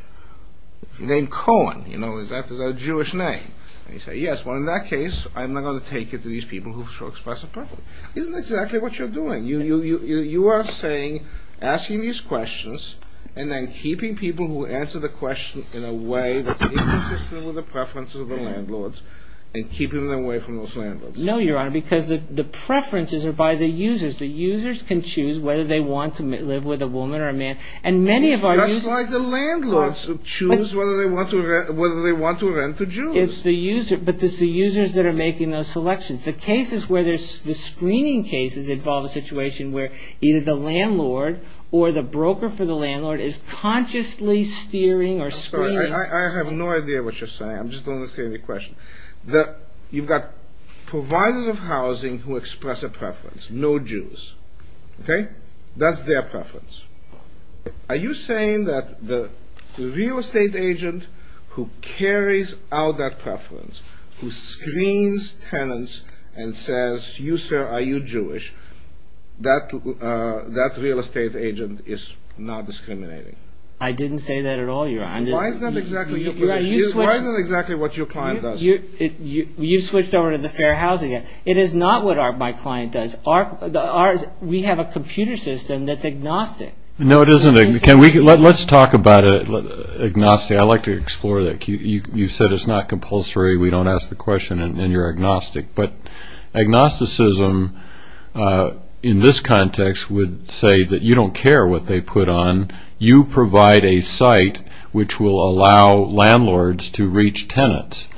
Your name Cohen. Is that a Jewish name? And you say, yes. Well, in that case, I'm not going to take you to these people who express a preference. Isn't that exactly what you're doing? You are saying – asking these questions and then keeping people who answer the question in a way that's inconsistent with the preferences of the landlords and keeping them away from those landlords. No, Your Honor, because the preferences are by the users. The users can choose whether they want to live with a woman or a man. Just like the landlords choose whether they want to rent to Jews. But it's the users that are making those selections. The screening cases involve a situation where either the landlord or the broker for the landlord is consciously steering or screening. I have no idea what you're saying. I just don't understand your question. You've got providers of housing who express a preference. No Jews. Okay? That's their preference. Are you saying that the real estate agent who carries out that preference, who screens tenants and says, you, sir, are you Jewish, that real estate agent is not discriminating? I didn't say that at all, Your Honor. Why is that exactly what your client does? You switched over to the fair housing. It is not what my client does. We have a computer system that's agnostic. No, it isn't. Let's talk about agnostic. I'd like to explore that. You said it's not compulsory, we don't ask the question, and you're agnostic. But agnosticism in this context would say that you don't care what they put on. You provide a site which will allow landlords to reach tenants.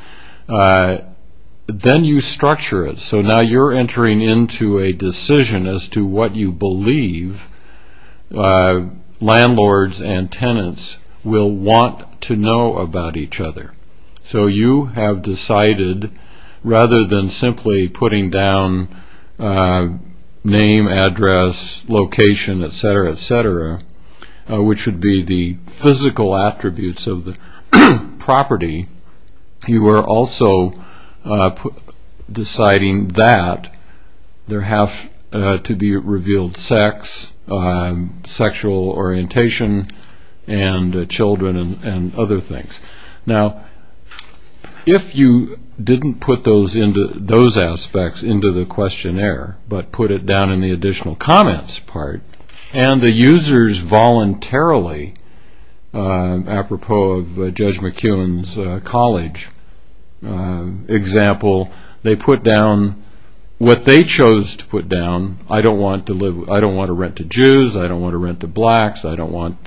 Then you structure it. So now you're entering into a decision as to what you believe landlords and tenants will want to know about each other. So you have decided, rather than simply putting down name, address, location, et cetera, et cetera, which would be the physical attributes of the property, you are also deciding that there have to be revealed sex, sexual orientation, and children and other things. Now, if you didn't put those aspects into the questionnaire but put it down in the additional comments part, and the users voluntarily, apropos of Judge McKeown's college example, they put down what they chose to put down. I don't want to rent to Jews. I don't want to rent to blacks. I don't want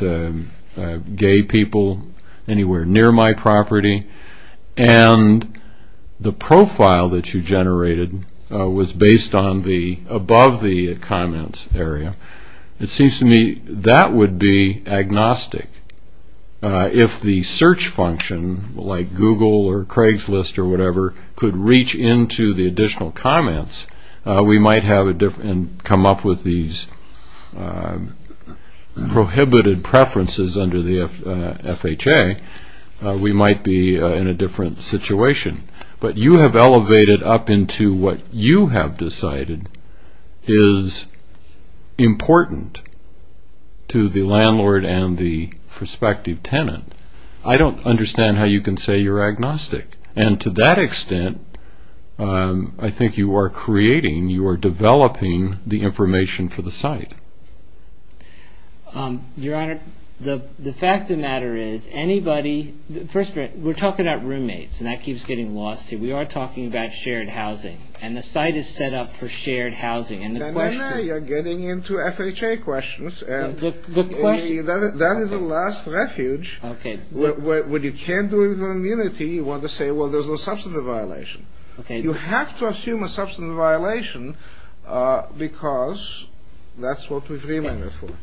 gay people anywhere near my property. And the profile that you generated was based on the above the comments area. It seems to me that would be agnostic. If the search function, like Google or Craigslist or whatever, could reach into the additional comments, we might have come up with these prohibited preferences under the FHA. We might be in a different situation. But you have elevated up into what you have decided is important to the landlord and the prospective tenant. I don't understand how you can say you're agnostic. And to that extent, I think you are creating, you are developing the information for the site. Your Honor, the fact of the matter is anybody – first, we're talking about roommates, and that keeps getting lost here. We are talking about shared housing, and the site is set up for shared housing. And the question – You're getting into FHA questions, and that is a last refuge. Okay. When you can't do it with immunity, you want to say, well, there's no substantive violation. Okay. You have to assume a substantive violation because that's what we've remanded for. Okay.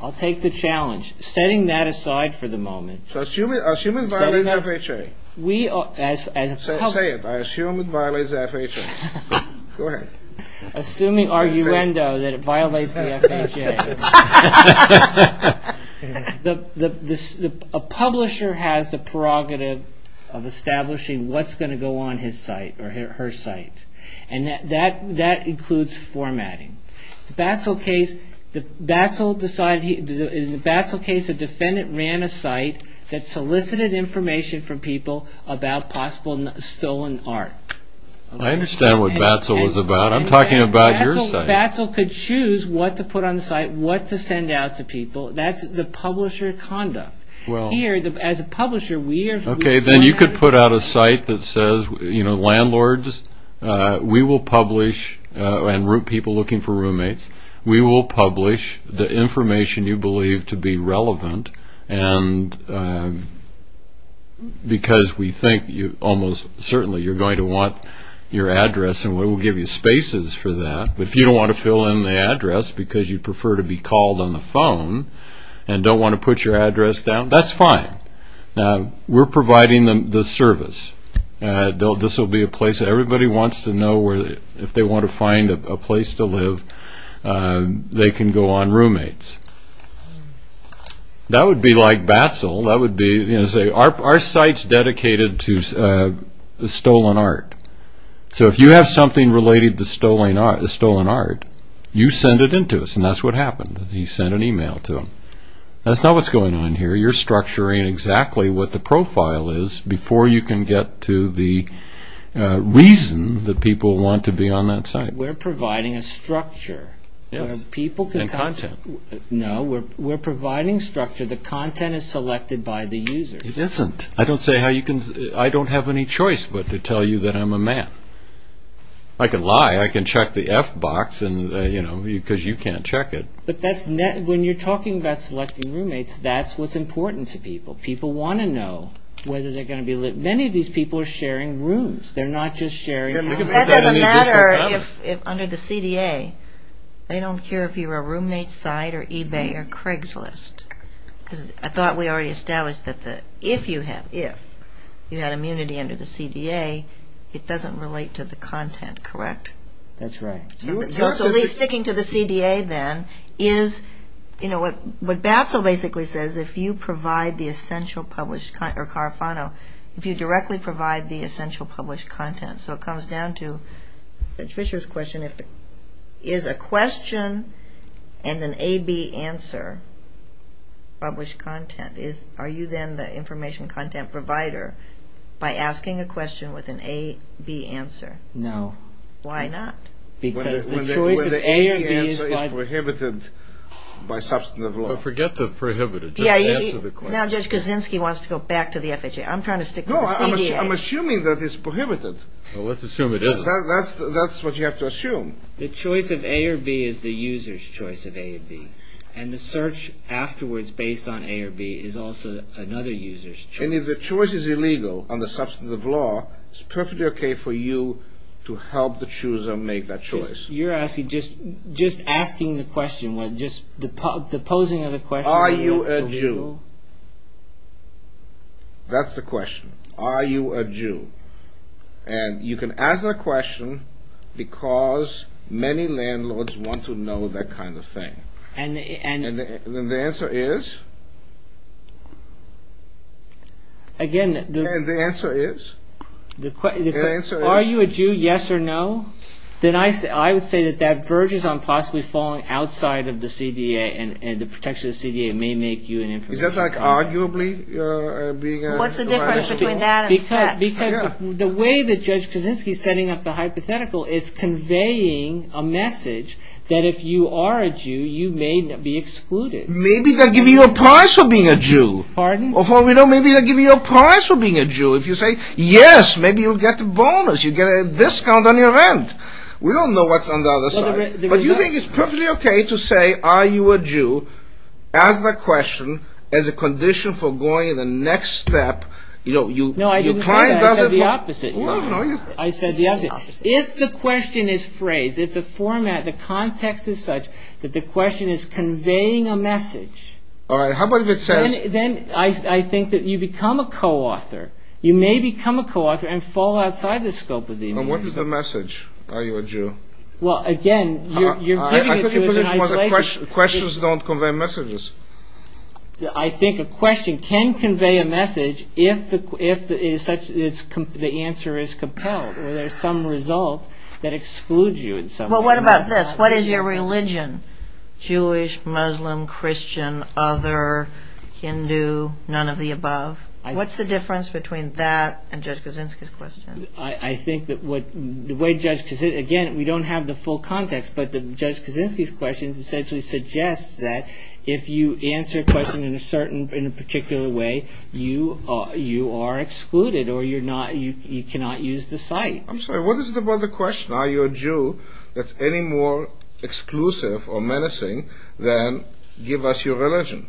I'll take the challenge. Setting that aside for the moment. Assuming it violates FHA. We – Say it. I assume it violates FHA. Go ahead. Assuming arguendo that it violates the FHA. Okay. A publisher has the prerogative of establishing what's going to go on his site or her site. And that includes formatting. The Batzel case, the Batzel decided – in the Batzel case, a defendant ran a site that solicited information from people about possible stolen art. I understand what Batzel was about. I'm talking about your site. If Batzel could choose what to put on the site, what to send out to people, that's the publisher conduct. Here, as a publisher, we are – Okay. Then you could put out a site that says, you know, landlords, we will publish and people looking for roommates, we will publish the information you believe to be relevant and because we think you almost certainly you're going to want your address and we will give you spaces for that. If you don't want to fill in the address because you prefer to be called on the phone and don't want to put your address down, that's fine. We're providing the service. This will be a place that everybody wants to know if they want to find a place to live, they can go on roommates. That would be like Batzel. That would be, you know, say, are sites dedicated to stolen art? So if you have something related to stolen art, you send it in to us and that's what happened. He sent an email to him. That's not what's going on here. You're structuring exactly what the profile is before you can get to the reason that people want to be on that site. We're providing a structure. Yes, and content. No, we're providing structure. The content is selected by the user. It isn't. I don't have any choice but to tell you that I'm a man. I can lie. I can check the F box because you can't check it. But when you're talking about selecting roommates, that's what's important to people. People want to know whether they're going to be let in. Many of these people are sharing rooms. They're not just sharing rooms. That doesn't matter if under the CDA, they don't care if you're a roommate site or eBay or Craigslist. I thought we already established that if you had immunity under the CDA, it doesn't relate to the content, correct? That's right. So sticking to the CDA then is what BATSL basically says. If you provide the essential published content or CARFANO, if you directly provide the essential published content. So it comes down to Judge Fischer's question. Is a question and an A-B answer published content? Are you then the information content provider by asking a question with an A-B answer? No. Why not? Because the choice of A or B is fine. The A-B answer is prohibited by substantive law. Forget the prohibited. Just answer the question. Now Judge Kaczynski wants to go back to the FHA. I'm trying to stick to the CDA. I'm assuming that it's prohibited. Well, let's assume it isn't. That's what you have to assume. The choice of A or B is the user's choice of A or B. And the search afterwards based on A or B is also another user's choice. And if the choice is illegal under substantive law, it's perfectly okay for you to help the chooser make that choice. You're asking, just asking the question, the posing of the question. Are you a Jew? That's the question. Are you a Jew? And you can ask that question because many landlords want to know that kind of thing. And the answer is? Again, the answer is? The answer is? Are you a Jew, yes or no? Then I would say that that verges on possibly falling outside of the CDA and the protection of the CDA may make you an information provider. Is that like arguably being an information provider? What's the difference between that and sex? Because the way that Judge Kaczynski is setting up the hypothetical is conveying a message that if you are a Jew, you may be excluded. Maybe they'll give you a prize for being a Jew. Pardon? Or maybe they'll give you a prize for being a Jew if you say, yes, maybe you'll get a bonus. You'll get a discount on your rent. We don't know what's on the other side. But you think it's perfectly okay to say, are you a Jew, ask that question as a condition for going to the next step. No, I didn't say that. I said the opposite. I said the opposite. If the question is phrased, if the format, the context is such that the question is conveying a message, then I think that you become a co-author. You may become a co-author and fall outside the scope of the immunity. What is the message? Are you a Jew? Well, again, you're giving it to us in isolation. Questions don't convey messages. I think a question can convey a message if the answer is compelled or there's some result that excludes you in some way. Well, what about this? What is your religion? Jewish, Muslim, Christian, other, Hindu, none of the above? What's the difference between that and Judge Kaczynski's question? I think that the way Judge Kaczynski, again, we don't have the full context, but Judge Kaczynski's question essentially suggests that if you answer a question in a particular way, you are excluded or you cannot use the site. I'm sorry. What is it about the question, are you a Jew, that's any more exclusive or menacing than give us your religion?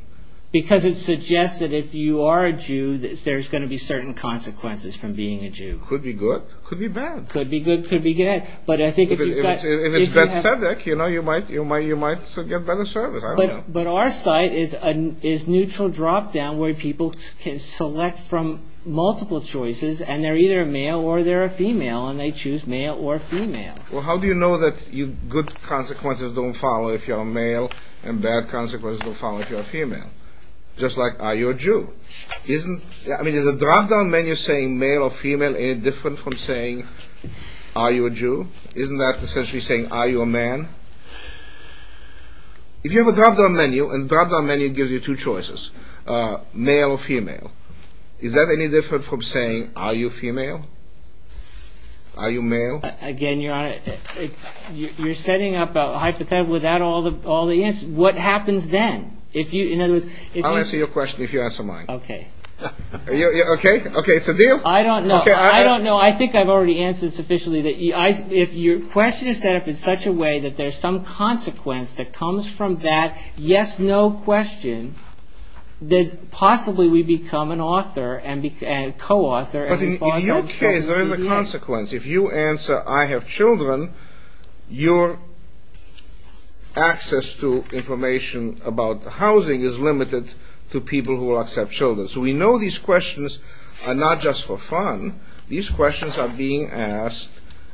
Because it suggests that if you are a Jew, there's going to be certain consequences from being a Jew. Could be good. Could be bad. Could be good. Could be bad. But I think if you've got... If it's that subject, you know, you might get better service, I don't know. But our site is a neutral drop-down where people can select from multiple choices, and they're either a male or they're a female, and they choose male or female. Well, how do you know that good consequences don't follow if you're a male and bad consequences don't follow if you're a female? Just like, are you a Jew? I mean, is a drop-down menu saying male or female any different from saying, are you a Jew? Isn't that essentially saying, are you a man? If you have a drop-down menu, and drop-down menu gives you two choices, male or female, is that any different from saying, are you female? Are you male? Again, Your Honor, you're setting up a hypothetical without all the answers. What happens then? I'll answer your question if you answer mine. Okay. Okay, it's a deal? I don't know. I don't know. I think I've already answered sufficiently. If your question is set up in such a way that there's some consequence that comes from that yes-no question, then possibly we become an author and co-author. But in your case, there is a consequence. If you answer, I have children, your access to information about housing is limited to people who accept children. So we know these questions are not just for fun. These questions are being asked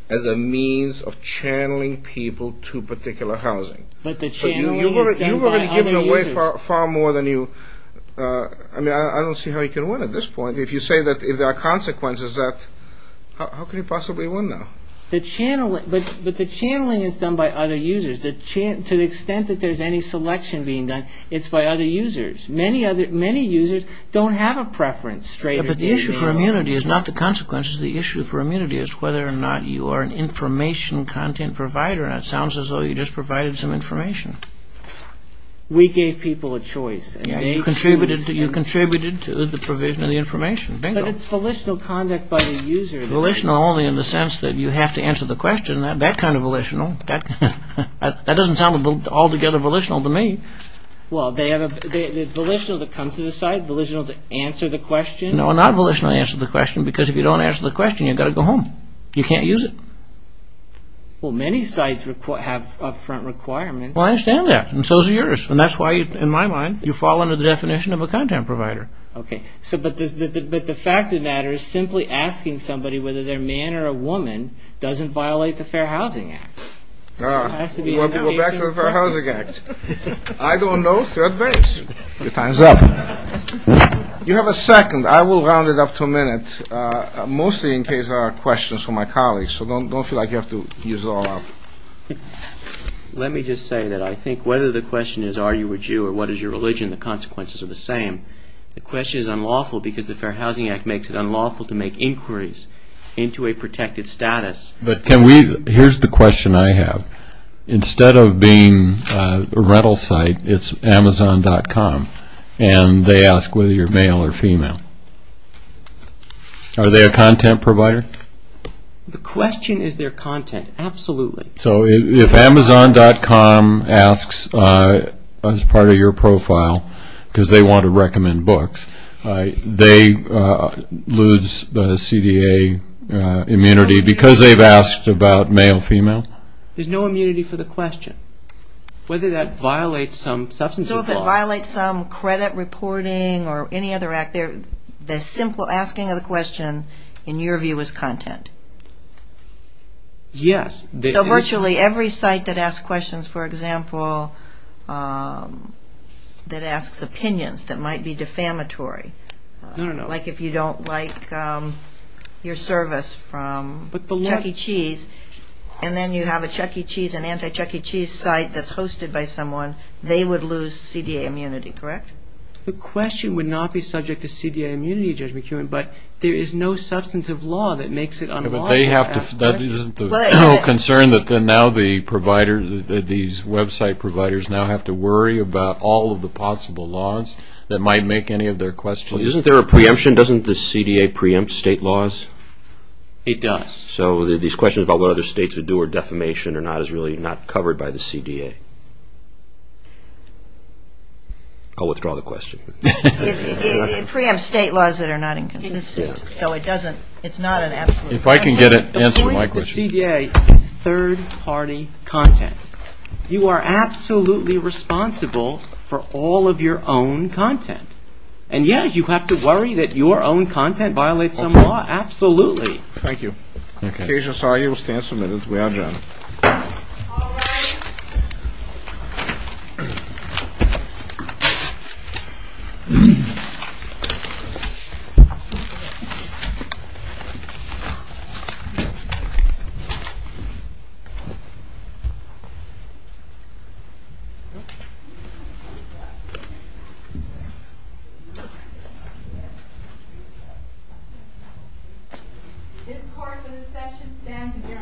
as a means of channeling people to particular housing. But the channeling is done by other users. You've already given away far more than you – I mean, I don't see how you can win at this point. If you say that there are consequences, how can you possibly win now? But the channeling is done by other users. To the extent that there's any selection being done, it's by other users. Many users don't have a preference. But the issue for immunity is not the consequences. The issue for immunity is whether or not you are an information content provider. And it sounds as though you just provided some information. We gave people a choice. You contributed to the provision of the information. But it's volitional conduct by the user. Volitional only in the sense that you have to answer the question. That kind of volitional. That doesn't sound altogether volitional to me. Well, volitional to come to the site, volitional to answer the question. No, not volitional to answer the question. Because if you don't answer the question, you've got to go home. You can't use it. Well, many sites have upfront requirements. Well, I understand that. And so is yours. And that's why, in my mind, you fall under the definition of a content provider. Okay. But the fact of the matter is simply asking somebody whether they're a man or a woman doesn't violate the Fair Housing Act. It has to be an indication. We want to go back to the Fair Housing Act. I don't know. Third base. Your time's up. You have a second. I will round it up to a minute, mostly in case there are questions from my colleagues. So don't feel like you have to use it all up. Let me just say that I think whether the question is are you a Jew or what is your religion, the consequences are the same. The question is unlawful because the Fair Housing Act makes it unlawful to make inquiries into a protected status. But can we – here's the question I have. Instead of being a rental site, it's Amazon.com, and they ask whether you're male or female. Are they a content provider? The question is their content. Absolutely. So if Amazon.com asks as part of your profile because they want to recommend books, they lose the CDA immunity because they've asked about male, female? There's no immunity for the question. Whether that violates some substance abuse law. So if it violates some credit reporting or any other act, the simple asking of the question, in your view, is content? Yes. So virtually every site that asks questions, for example, that asks opinions that might be defamatory, like if you don't like your service from Chuck E. Cheese, and then you have a Chuck E. Cheese, an anti-Chuck E. Cheese site that's hosted by someone, they would lose CDA immunity, correct? The question would not be subject to CDA immunity, Judge McKeown, but there is no substantive law that makes it unlawful to ask questions. Isn't there a concern that these website providers now have to worry about all of the possible laws that might make any of their questions? Isn't there a preemption? Doesn't the CDA preempt state laws? It does. So these questions about what other states would do or defamation or not is really not covered by the CDA. I'll withdraw the question. It preempts state laws that are not inconsistent. So it doesn't, it's not an absolute. If I can get an answer to my question. The point of the CDA is third-party content. You are absolutely responsible for all of your own content. And, yes, you have to worry that your own content violates some law, absolutely. Thank you. Okay. Thank you, Judge Osagie. We'll stand some minutes. We are adjourned. All rise. This court for this session stands adjourned. Thank you.